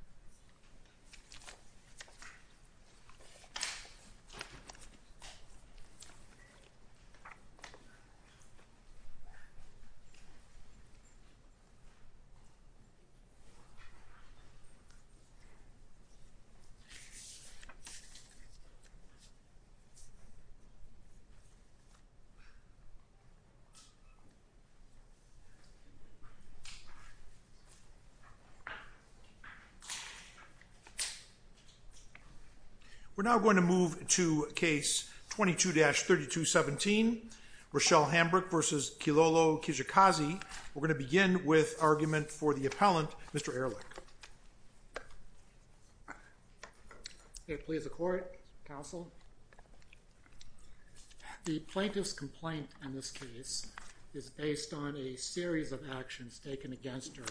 Kijakazi Hambrick v. Kilolo Kijakazi We're now going to move to case 22-3217, Rochelle Hambrick v. Kilolo Kijakazi. We're going to begin with argument for the appellant, Mr. Ehrlich. May it please the court, counsel. The plaintiff's complaint in this case is based on a series of actions taken against her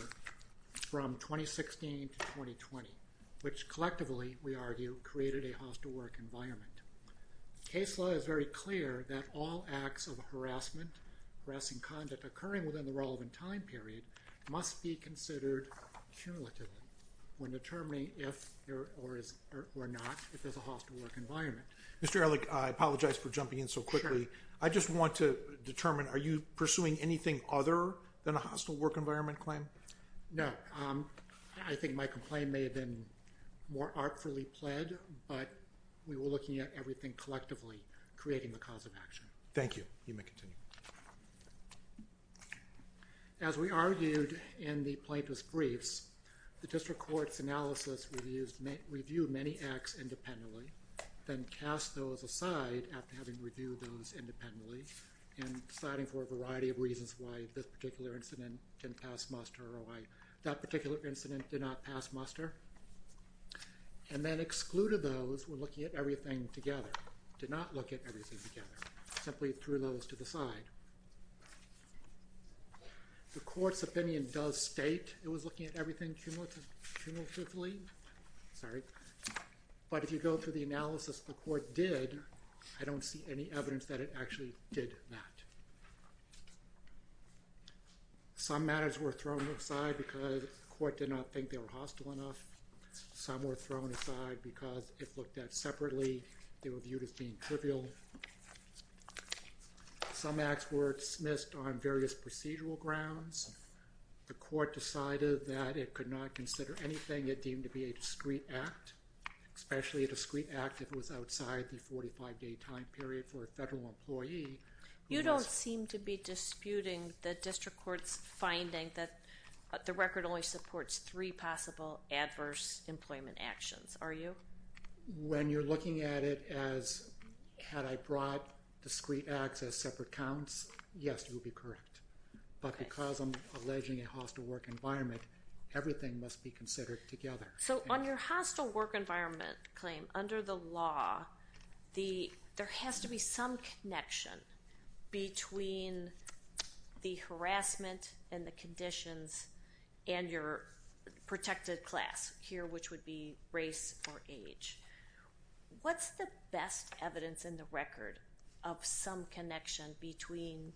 from 2016 to 2020, which collectively, we argue, created a hostile work environment. Case law is very clear that all acts of harassment, harassing conduct occurring within the relevant time period, must be considered cumulatively when determining if or not if there's a hostile work environment. Mr. Ehrlich, I apologize for jumping in so quickly. Sure. I just want to determine, are you pursuing anything other than a hostile work environment claim? No. I think my complaint may have been more artfully pled, but we were looking at everything collectively, creating the cause of action. Thank you. You may continue. As we argued in the plaintiff's briefs, the district court's analysis reviewed many acts independently, then cast those aside after having reviewed those independently, and deciding for a variety of reasons why this particular incident didn't pass muster or why that particular incident did not pass muster, and then excluded those who were looking at everything together, did not look at everything together, simply threw those to the side. The court's opinion does state it was looking at everything cumulatively, but if you go through the analysis the court did, I don't see any evidence that it actually did that. Some matters were thrown aside because the court did not think they were hostile enough. Some were thrown aside because if looked at separately they were viewed as being trivial. Some acts were dismissed on various procedural grounds. The court decided that it could not consider anything it deemed to be a discreet act, especially a discreet act if it was outside the 45-day time period for a federal employee. You don't seem to be disputing the district court's finding that the record only supports three possible adverse employment actions, are you? When you're looking at it as had I brought discreet acts as separate counts, yes, it would be correct. But because I'm alleging a hostile work environment, everything must be considered together. So on your hostile work environment claim, under the law, there has to be some connection between the harassment and the conditions and your protected class, here which would be race or age. What's the best evidence in the record of some connection between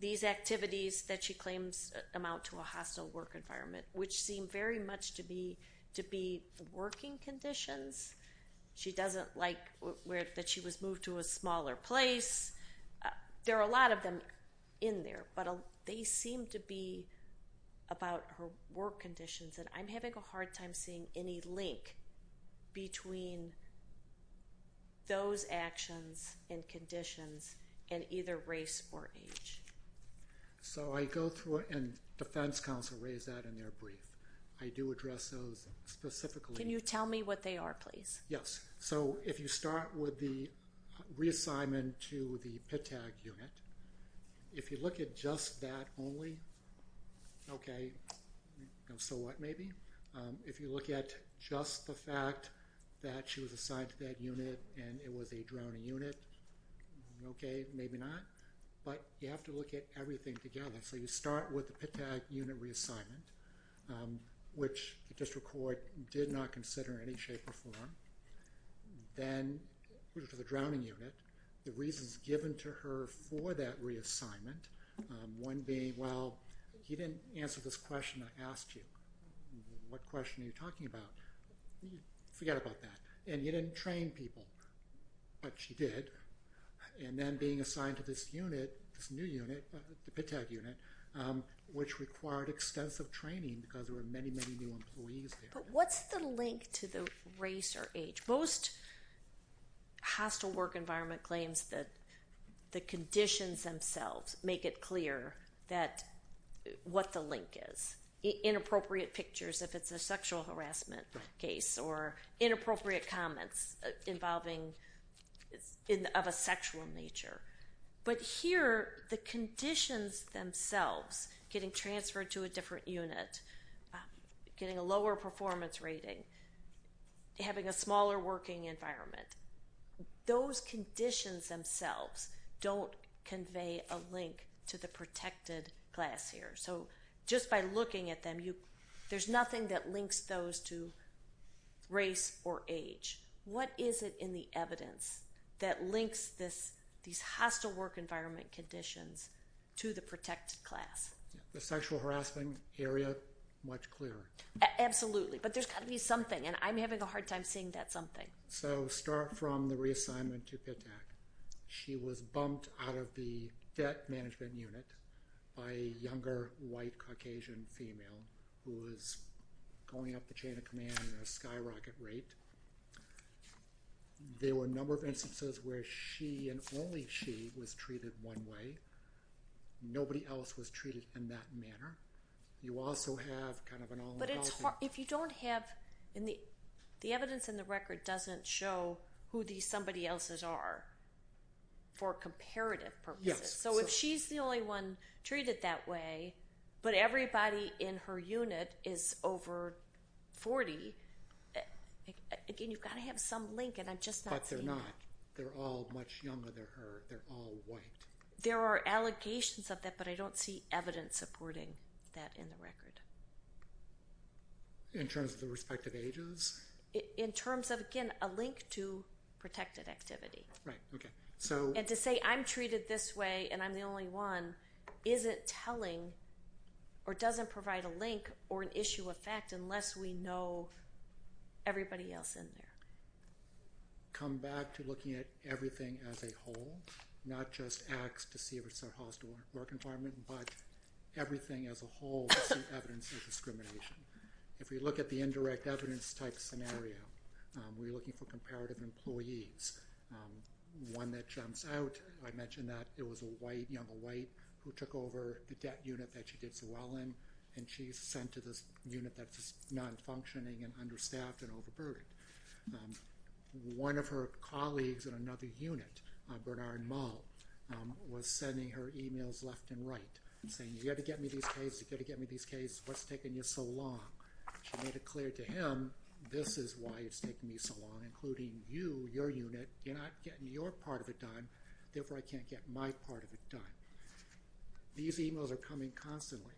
these activities that she claims amount to a hostile work environment, which seem very much to be working conditions? She doesn't like that she was moved to a smaller place. There are a lot of them in there, but they seem to be about her work conditions, and I'm having a hard time seeing any link between those actions and conditions and either race or age. So I go through and defense counsel raised that in their brief. I do address those specifically. Can you tell me what they are, please? Yes. So if you start with the reassignment to the PIT tag unit, if you look at just that only, okay, so what maybe? If you look at just the fact that she was assigned to that unit and it was a drowning unit, okay, maybe not. But you have to look at everything together. So you start with the PIT tag unit reassignment, which the district court did not consider in any shape or form. Then to the drowning unit, the reasons given to her for that reassignment, one being, well, he didn't answer this question I asked you. What question are you talking about? Forget about that. And you didn't train people, but she did. And then being assigned to this unit, this new unit, the PIT tag unit, which required extensive training because there were many, many new employees there. But what's the link to the race or age? Most hostile work environment claims that the conditions themselves make it clear what the link is. Inappropriate pictures if it's a sexual harassment case or inappropriate comments involving of a sexual nature. But here, the conditions themselves, getting transferred to a different unit, getting a lower performance rating, having a smaller working environment, those conditions themselves don't convey a link to the protected class here. So just by looking at them, there's nothing that links those to race or age. What is it in the evidence that links these hostile work environment conditions to the protected class? The sexual harassment area, much clearer. Absolutely. But there's got to be something, and I'm having a hard time seeing that something. So start from the reassignment to PIT tag. She was bumped out of the debt management unit by a younger, white, Caucasian female who was going up the chain of command in a skyrocket rate. There were a number of instances where she and only she was treated one way. Nobody else was treated in that manner. You also have kind of an all-inclusive. The evidence in the record doesn't show who these somebody else's are for comparative purposes. So if she's the only one treated that way, but everybody in her unit is over 40, again, you've got to have some link, and I'm just not seeing it. But they're not. They're all much younger than her. They're all white. There are allegations of that, but I don't see evidence supporting that in the record. In terms of the respective ages? In terms of, again, a link to protected activity. Right, okay. And to say I'm treated this way and I'm the only one isn't telling or doesn't provide a link or an issue of fact unless we know everybody else in there. Come back to looking at everything as a whole, not just acts to see if it's a hostile work environment, but everything as a whole to see evidence of discrimination. If we look at the indirect evidence type scenario, we're looking for comparative employees. One that jumps out, I mentioned that it was a white, younger white, who took over the debt unit that she did so well in, and she's sent to this unit that's non-functioning and understaffed and overburdened. One of her colleagues in another unit, Bernard Malt, was sending her emails left and right, saying, You've got to get me these cases. You've got to get me these cases. What's taking you so long? She made it clear to him, This is why it's taking me so long, including you, your unit. You're not getting your part of it done. Therefore, I can't get my part of it done. These emails are coming constantly.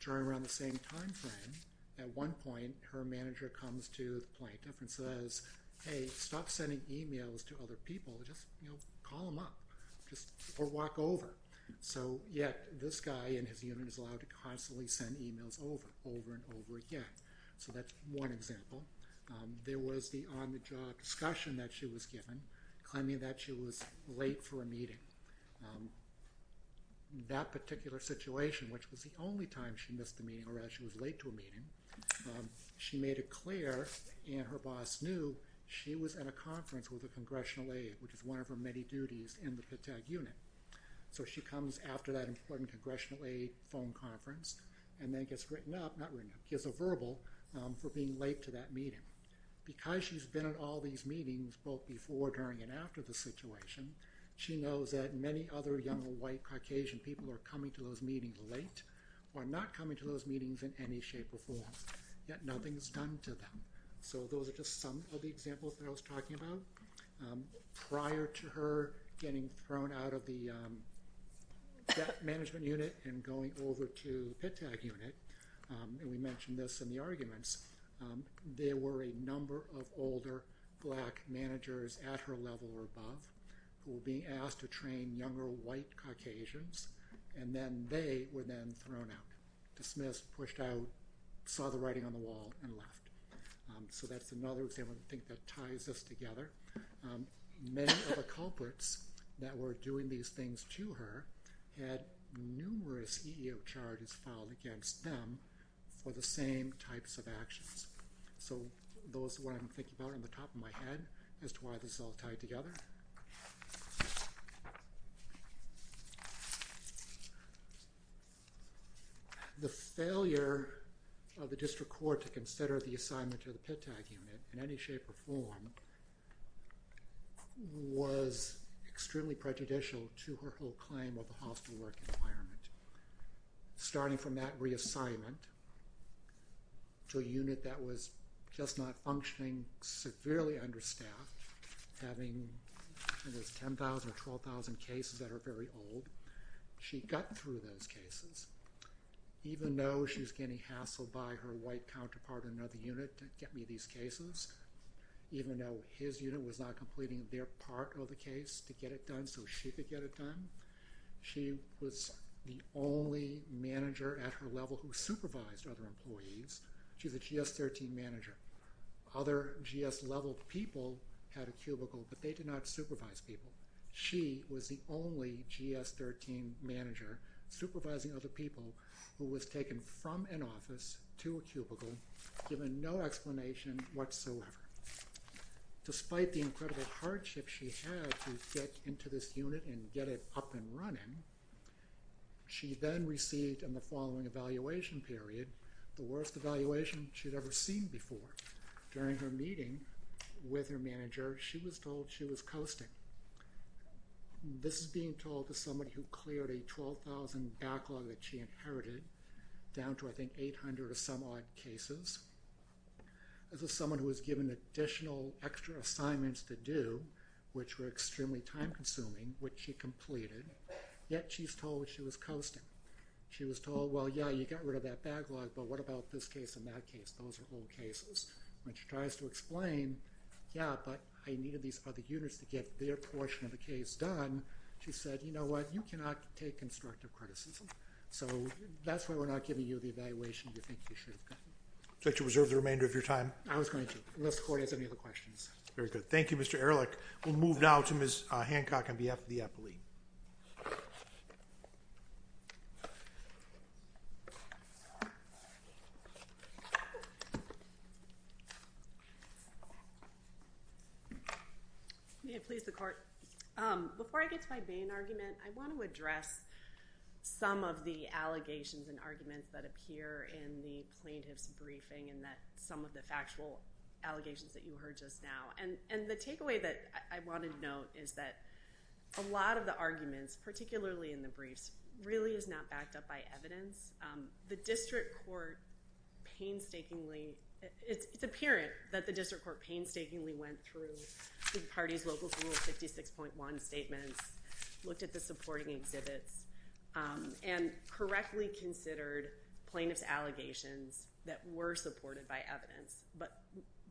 During around the same time frame, at one point, her manager comes to the plaintiff and says, Hey, stop sending emails to other people. Just call them up or walk over. So yet this guy in his unit is allowed to constantly send emails over and over again. So that's one example. There was the on-the-job discussion that she was given, claiming that she was late for a meeting. That particular situation, which was the only time she missed a meeting or that she was late to a meeting, she made it clear and her boss knew she was at a conference with a congressional aide, which is one of her many duties in the PITTAG unit. So she comes after that important congressional aide phone conference and then gets a verbal for being late to that meeting. Because she's been at all these meetings both before, during, and after the situation, she knows that many other young white Caucasian people are coming to those meetings late or not coming to those meetings in any shape or form, yet nothing is done to them. So those are just some of the examples that I was talking about. Prior to her getting thrown out of the debt management unit and going over to the PITTAG unit, and we mentioned this in the arguments, there were a number of older black managers at her level or above. Who were being asked to train younger white Caucasians and then they were then thrown out. Dismissed, pushed out, saw the writing on the wall, and left. So that's another example I think that ties us together. Many of the culprits that were doing these things to her had numerous EEO charges filed against them for the same types of actions. So those are what I'm thinking about on the top of my head as to why this is all tied together. The failure of the district court to consider the assignment to the PITTAG unit in any shape or form was extremely prejudicial to her whole claim of the hostile work environment. Starting from that reassignment to a unit that was just not functioning severely understaffed, having 10,000 or 12,000 cases that are very old, she got through those cases. Even though she's getting hassled by her white counterpart in another unit to get me these cases, even though his unit was not completing their part of the case to get it done so she could get it done, she was the only manager at her level who supervised other employees. She's a GS-13 manager. Other GS-level people had a cubicle, but they did not supervise people. She was the only GS-13 manager supervising other people who was taken from an office to a cubicle, given no explanation whatsoever. Despite the incredible hardship she had to get into this unit and get it up and running, she then received in the following evaluation period the worst evaluation she'd ever seen before. During her meeting with her manager, she was told she was coasting. This is being told to somebody who cleared a 12,000 backlog that she inherited, down to I think 800 or some odd cases. This is someone who was given additional extra assignments to do, which were extremely time-consuming, which she completed, yet she's told she was coasting. She was told, well, yeah, you got rid of that backlog, but what about this case and that case? Those are old cases. When she tries to explain, yeah, but I needed these other units to get their portion of the case done, she said, you know what, you cannot take constructive criticism. That's why we're not giving you the evaluation you think you should have gotten. Would you like to reserve the remainder of your time? I was going to, unless the Court has any other questions. Very good. Thank you, Mr. Ehrlich. We'll move now to Ms. Hancock on behalf of the Epilee. May it please the Court. Before I get to my Bain argument, I want to address some of the allegations and arguments that appear in the plaintiff's briefing and some of the factual allegations that you heard just now. And the takeaway that I wanted to note is that a lot of the arguments, particularly in the briefs, really is not backed up by evidence. The District Court painstakingly, it's apparent that the District Court painstakingly went through the party's local rule 56.1 statements, looked at the supporting exhibits, and correctly considered plaintiff's allegations that were supported by evidence. But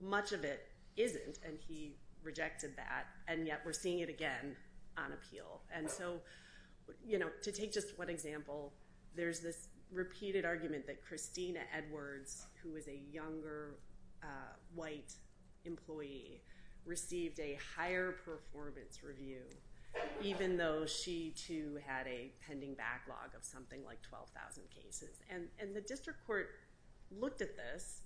much of it isn't, and he rejected that. And yet we're seeing it again on Appeal. And so, you know, to take just one example, there's this repeated argument that Christina Edwards, who is a younger white employee, received a higher performance review, even though she, too, had a pending backlog of something like 12,000 cases. And the District Court looked at this,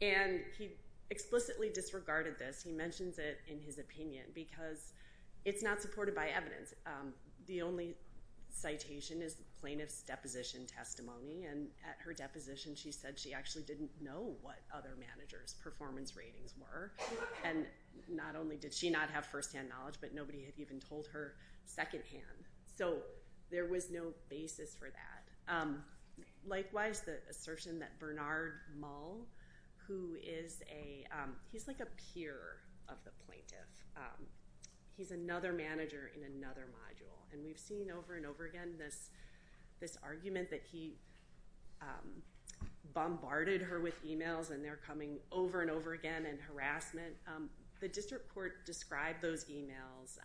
and he explicitly disregarded this. He mentions it in his opinion because it's not supported by evidence. The only citation is plaintiff's deposition testimony. And at her deposition, she said she actually didn't know what other managers' performance ratings were. And not only did she not have firsthand knowledge, but nobody had even told her secondhand. So there was no basis for that. Likewise, the assertion that Bernard Mull, who is a, he's like a peer of the plaintiff. He's another manager in another module. And we've seen over and over again this argument that he bombarded her with e-mails, and they're coming over and over again in harassment. The District Court described those e-mails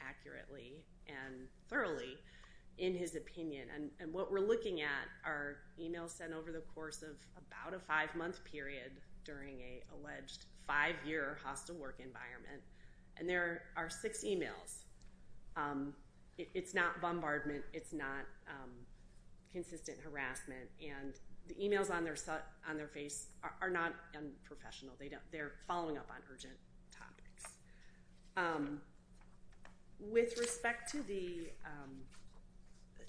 accurately and thoroughly in his opinion. And what we're looking at are e-mails sent over the course of about a five-month period during an alleged five-year hostile work environment. And there are six e-mails. It's not bombardment. It's not consistent harassment. And the e-mails on their face are not unprofessional. They're following up on urgent topics. With respect to the,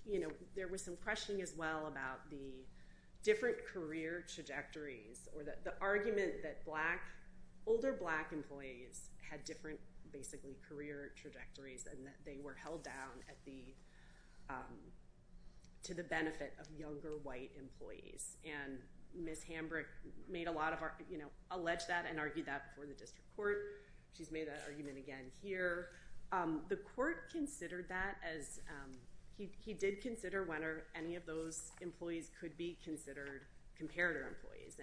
you know, there was some questioning as well about the different career trajectories or the argument that black, older black employees had different basically career trajectories and that they were held down at the, to the benefit of younger white employees. And Ms. Hambrick made a lot of, you know, alleged that and argued that before the District Court. She's made that argument again here. The court considered that as, he did consider whether any of those employees could be considered comparator employees.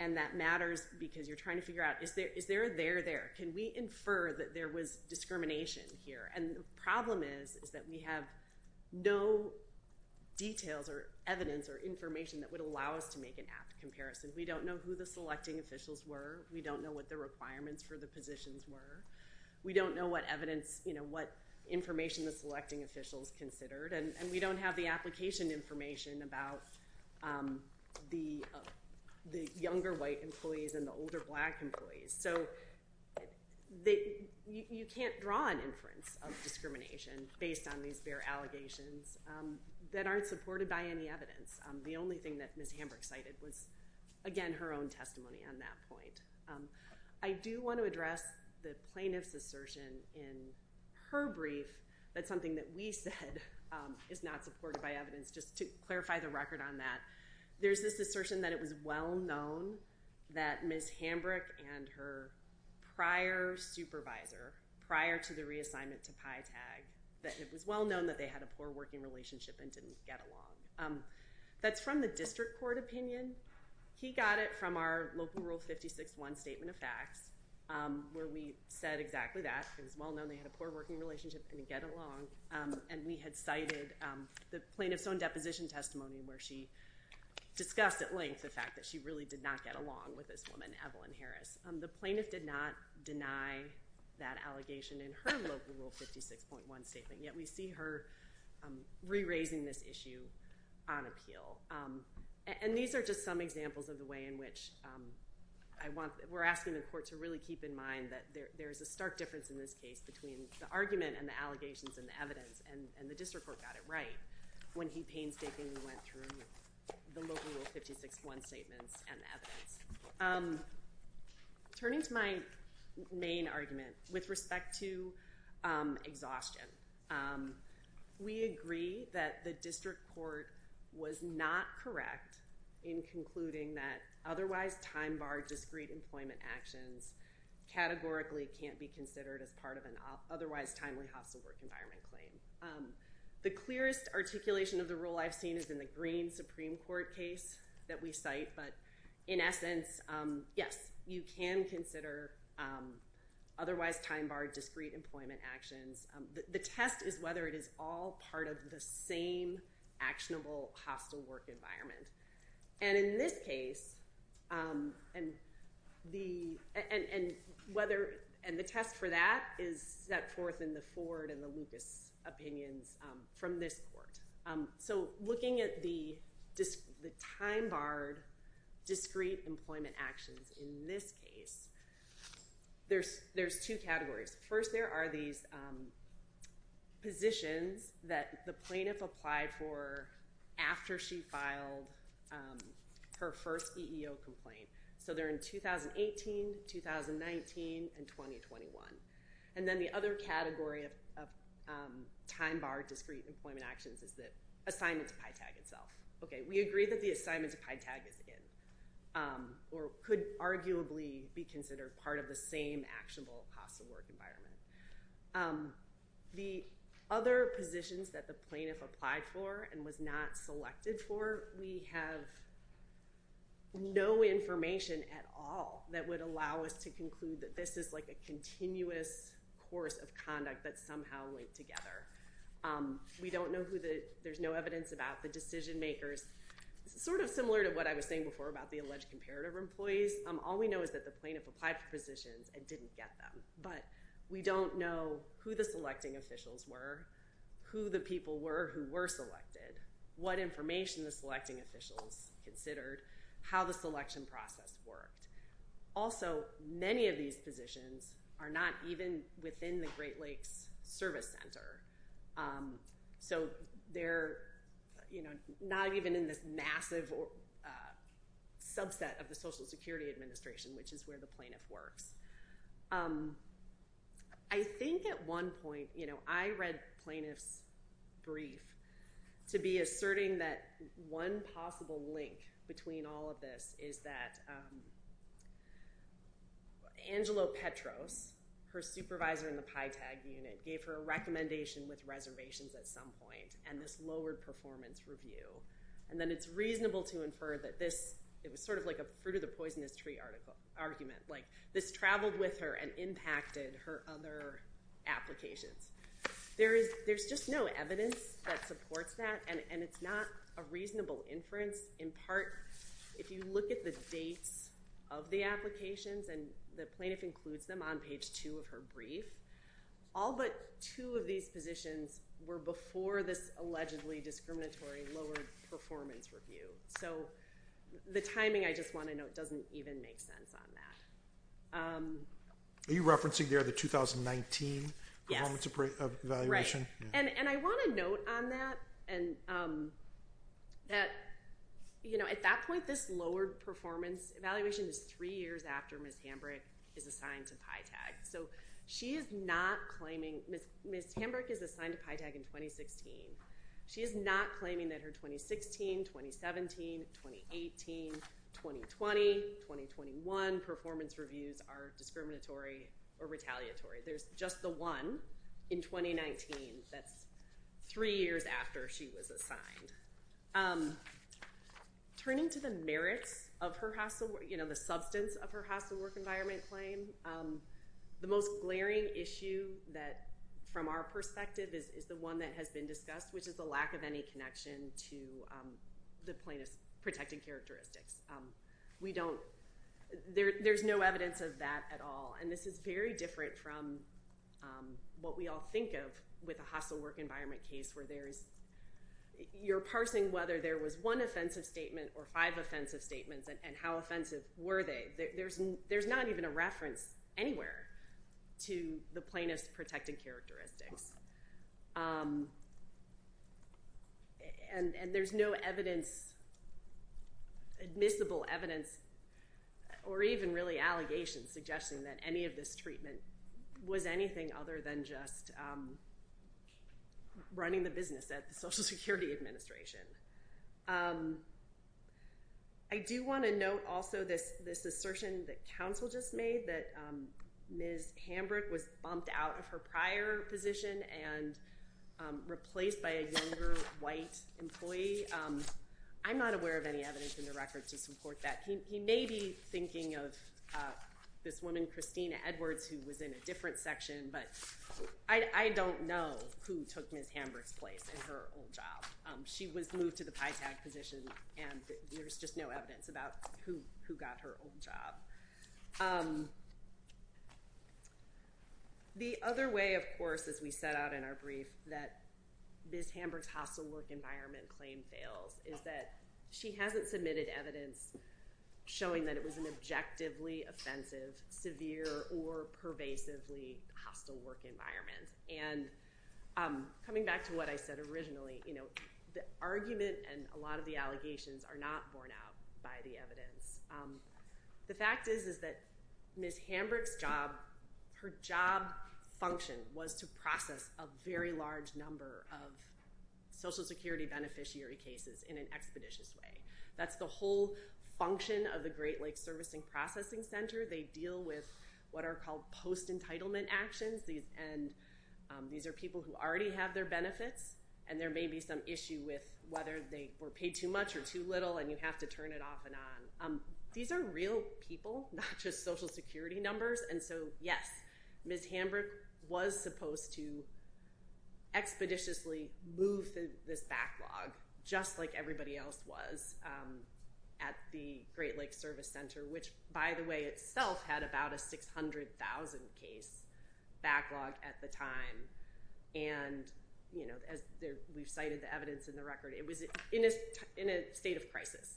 And that matters because you're trying to figure out, is there a there there? Can we infer that there was discrimination here? And the problem is that we have no details or evidence or information that would allow us to make an apt comparison. We don't know who the selecting officials were. We don't know what the requirements for the positions were. We don't know what evidence, you know, what information the selecting officials considered. And we don't have the application information about the younger white employees and the older black employees. So you can't draw an inference of discrimination based on these bare allegations that aren't supported by any evidence. The only thing that Ms. Hambrick cited was, again, her own testimony on that point. I do want to address the plaintiff's assertion in her brief. That's something that we said is not supported by evidence. Just to clarify the record on that. There's this assertion that it was well known that Ms. Hambrick and her prior supervisor, prior to the reassignment to PyTag, that it was well known that they had a poor working relationship and didn't get along. That's from the District Court opinion. He got it from our Local Rule 56.1 Statement of Facts where we said exactly that. It was well known they had a poor working relationship and didn't get along. And we had cited the plaintiff's own deposition testimony where she discussed at length the fact that she really did not get along with this woman, Evelyn Harris. The plaintiff did not deny that allegation in her Local Rule 56.1 Statement, yet we see her re-raising this issue on appeal. And these are just some examples of the way in which we're asking the court to really keep in mind that there's a stark difference in this case between the argument and the allegations and the evidence. And the District Court got it right when he painstakingly went through the Local Rule 56.1 Statements and the evidence. Turning to my main argument with respect to exhaustion, we agree that the District Court was not correct in concluding that otherwise time-barred discreet employment actions categorically can't be considered as part of an otherwise timely hostile work environment claim. The clearest articulation of the rule I've seen is in the Green Supreme Court case that we cite, but in essence, yes, you can consider otherwise time-barred discreet employment actions. The test is whether it is all part of the same actionable hostile work environment. And in this case, and the test for that is set forth in the Ford and the Lucas opinions from this court. So looking at the time-barred discreet employment actions in this case, there's two categories. First, there are these positions that the plaintiff applied for after she filed her first EEO complaint. So they're in 2018, 2019, and 2021. And then the other category of time-barred discreet employment actions is the assignment to PyTag itself. Okay, we agree that the assignment to PyTag is in or could arguably be considered part of the same actionable hostile work environment. The other positions that the plaintiff applied for and was not selected for, we have no information at all that would allow us to conclude that this is like a continuous course of conduct that's somehow linked together. We don't know who the – there's no evidence about the decision makers. Sort of similar to what I was saying before about the alleged comparative employees, all we know is that the plaintiff applied for positions and didn't get them. But we don't know who the selecting officials were, who the people were who were selected, what information the selecting officials considered, how the selection process worked. Also, many of these positions are not even within the Great Lakes Service Center. So they're not even in this massive subset of the Social Security Administration, which is where the plaintiff works. I think at one point, you know, I read plaintiff's brief to be asserting that one possible link between all of this is that Angelo Petros, her supervisor in the PyTag unit, gave her a recommendation with reservations at some point and this lowered performance review. And then it's reasonable to infer that this – it was sort of like a fruit of the poisonous tree argument. Like, this traveled with her and impacted her other applications. There's just no evidence that supports that, and it's not a reasonable inference. In part, if you look at the dates of the applications, and the plaintiff includes them on page two of her brief, all but two of these positions were before this allegedly discriminatory lowered performance review. So the timing, I just want to note, doesn't even make sense on that. Are you referencing there the 2019 performance evaluation? Yes. Right. And I want to note on that that, you know, at that point, this lowered performance evaluation is three years after Ms. Hamburg is assigned to PyTag. So she is not claiming – Ms. Hamburg is assigned to PyTag in 2016. She is not claiming that her 2016, 2017, 2018, 2020, 2021 performance reviews are discriminatory or retaliatory. There's just the one in 2019. That's three years after she was assigned. Turning to the merits of her – you know, the substance of her hostile work environment claim, the most glaring issue from our perspective is the one that has been discussed, which is the lack of any connection to the plaintiff's protected characteristics. We don't – there's no evidence of that at all. And this is very different from what we all think of with a hostile work environment case, where you're parsing whether there was one offensive statement or five offensive statements, and how offensive were they. There's not even a reference anywhere to the plaintiff's protected characteristics. And there's no evidence – admissible evidence or even really allegations suggesting that any of this treatment was anything other than just running the business at the Social Security Administration. I do want to note also this assertion that counsel just made, that Ms. Hamburg was bumped out of her prior position and replaced by a younger white employee. I'm not aware of any evidence in the record to support that. He may be thinking of this woman, Christina Edwards, who was in a different section, but I don't know who took Ms. Hamburg's place in her old job. She was moved to the PyTag position, and there's just no evidence about who got her old job. The other way, of course, as we set out in our brief, that Ms. Hamburg's hostile work environment claim fails is that she hasn't submitted evidence showing that it was an objectively offensive, severe, or pervasively hostile work environment. Coming back to what I said originally, the argument and a lot of the allegations are not borne out by the evidence. The fact is that Ms. Hamburg's job function was to process a very large number of Social Security beneficiary cases in an expeditious way. That's the whole function of the Great Lakes Servicing Processing Center. They deal with what are called post-entitlement actions. These are people who already have their benefits, and there may be some issue with whether they were paid too much or too little, and you have to turn it off and on. These are real people, not just Social Security numbers. And so, yes, Ms. Hamburg was supposed to expeditiously move this backlog, just like everybody else was at the Great Lakes Service Center, which, by the way, itself had about a 600,000 case backlog at the time. And as we've cited the evidence in the record, it was in a state of crisis.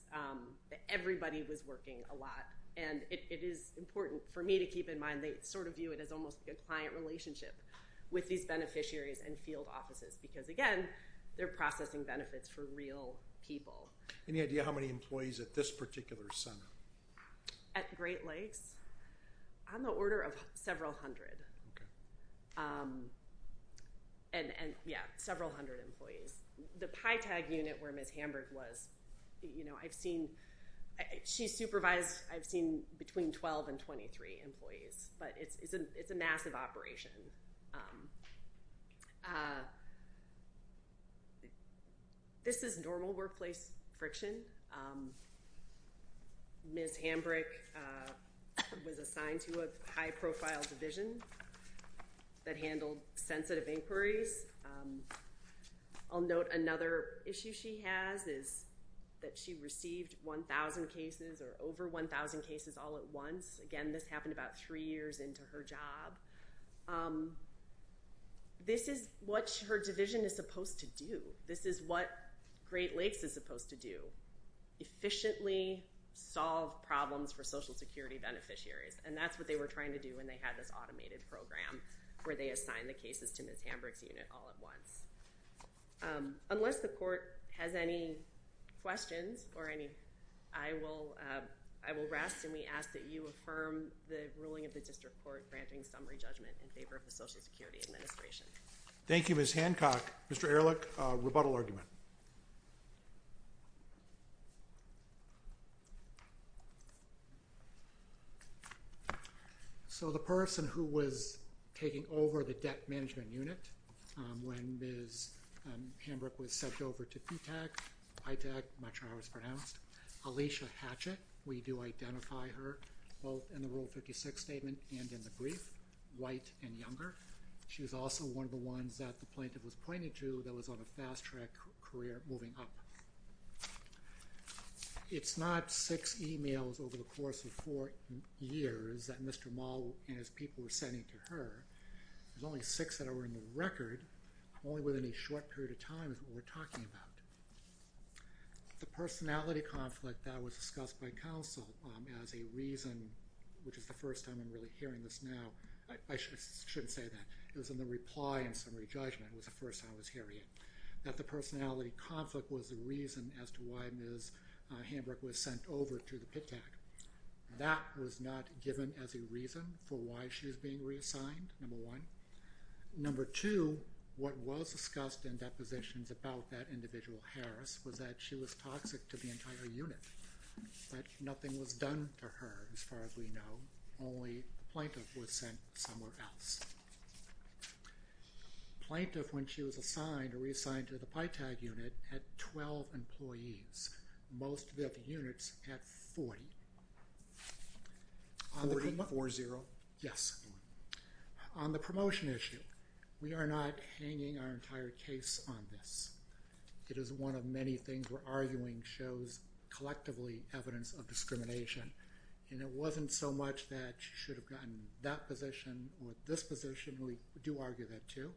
Everybody was working a lot, and it is important for me to keep in mind, they sort of view it as almost a client relationship with these beneficiaries and field offices, because, again, they're processing benefits for real people. Any idea how many employees at this particular center? At Great Lakes? On the order of several hundred. Okay. And, yeah, several hundred employees. The PyTag unit where Ms. Hamburg was, you know, I've seen, she supervised, I've seen between 12 and 23 employees, but it's a massive operation. This is normal workplace friction. Ms. Hamburg was assigned to a high-profile division that handled sensitive inquiries. I'll note another issue she has is that she received 1,000 cases or over 1,000 cases all at once. Again, this happened about three years into her job. This is what her division is supposed to do. This is what Great Lakes is supposed to do, efficiently solve problems for Social Security beneficiaries, and that's what they were trying to do when they had this automated program where they assigned the cases to Ms. Hamburg's unit all at once. Unless the court has any questions or any, I will rest, and we ask that you affirm the ruling of the district court granting summary judgment in favor of the Social Security Administration. Thank you, Ms. Hancock. Mr. Ehrlich, rebuttal argument. So the person who was taking over the debt management unit when Ms. Hamburg was sent over to PyTag, Alicia Hatchett, we do identify her both in the Rule 56 statement and in the brief, white and younger. She was also one of the ones that the plaintiff was pointing to that was on a fast track career moving up. It's not six emails over the course of four years that Mr. Moll and his people were sending to her. There's only six that are in the record, only within a short period of time is what we're talking about. The personality conflict that was discussed by counsel as a reason, which is the first time I'm really hearing this now, I shouldn't say that, it was in the reply in summary judgment was the first time I was hearing it, that the personality conflict was the reason as to why Ms. Hamburg was sent over to the PyTag. That was not given as a reason for why she was being reassigned, number one. Number two, what was discussed in depositions about that individual, Harris, was that she was toxic to the entire unit, that nothing was done to her as far as we know, only the plaintiff was sent somewhere else. Plaintiff, when she was assigned or reassigned to the PyTag unit, had 12 employees, most of the other units had 40. 40? 40, yes. On the promotion issue, we are not hanging our entire case on this. It is one of many things we're arguing shows collectively evidence of discrimination, and it wasn't so much that she should have gotten that position or this position, we do argue that too,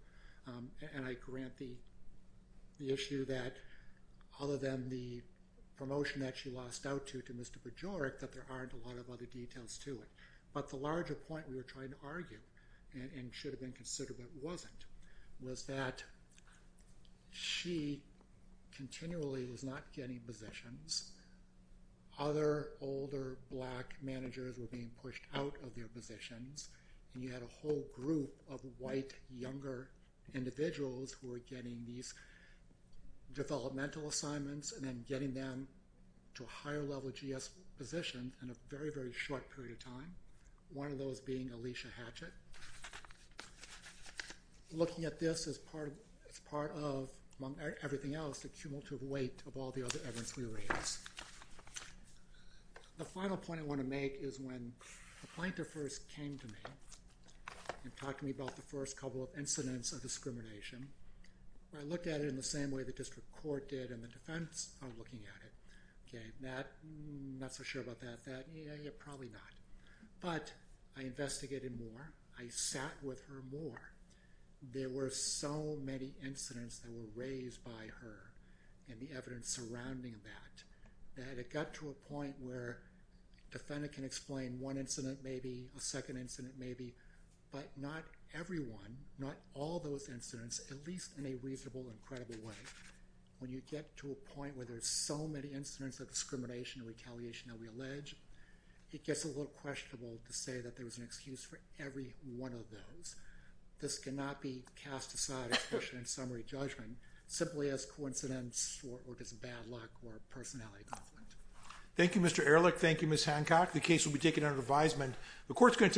and I grant the issue that other than the promotion that she lost out to to Mr. Bajorek, that there aren't a lot of other details to it. But the larger point we were trying to argue, and should have been considered but wasn't, was that she continually was not getting positions, other older black managers were being pushed out of their positions, and you had a whole group of white, younger individuals who were getting these developmental assignments and then getting them to a higher level of GS positions in a very, very short period of time, one of those being Alicia Hatchett. Looking at this as part of, among everything else, the cumulative weight of all the other evidence we raised. The final point I want to make is when the plaintiff first came to me and talked to me about the first couple of incidents of discrimination, I looked at it in the same way the district court did and the defense are looking at it. Not so sure about that. Yeah, probably not. But I investigated more. I sat with her more. There were so many incidents that were raised by her and the evidence surrounding that, that it got to a point where a defendant can explain one incident maybe, a second incident maybe, but not everyone, not all those incidents, at least in a reasonable and credible way, when you get to a point where there's so many incidents of discrimination and retaliation that we allege, it gets a little questionable to say that there was an excuse for every one of those. This cannot be cast aside as a question of summary judgment, simply as coincidence or just bad luck or personality conflict. Thank you, Mr. Ehrlich. Thank you, Ms. Hancock. The case will be taken under advisement.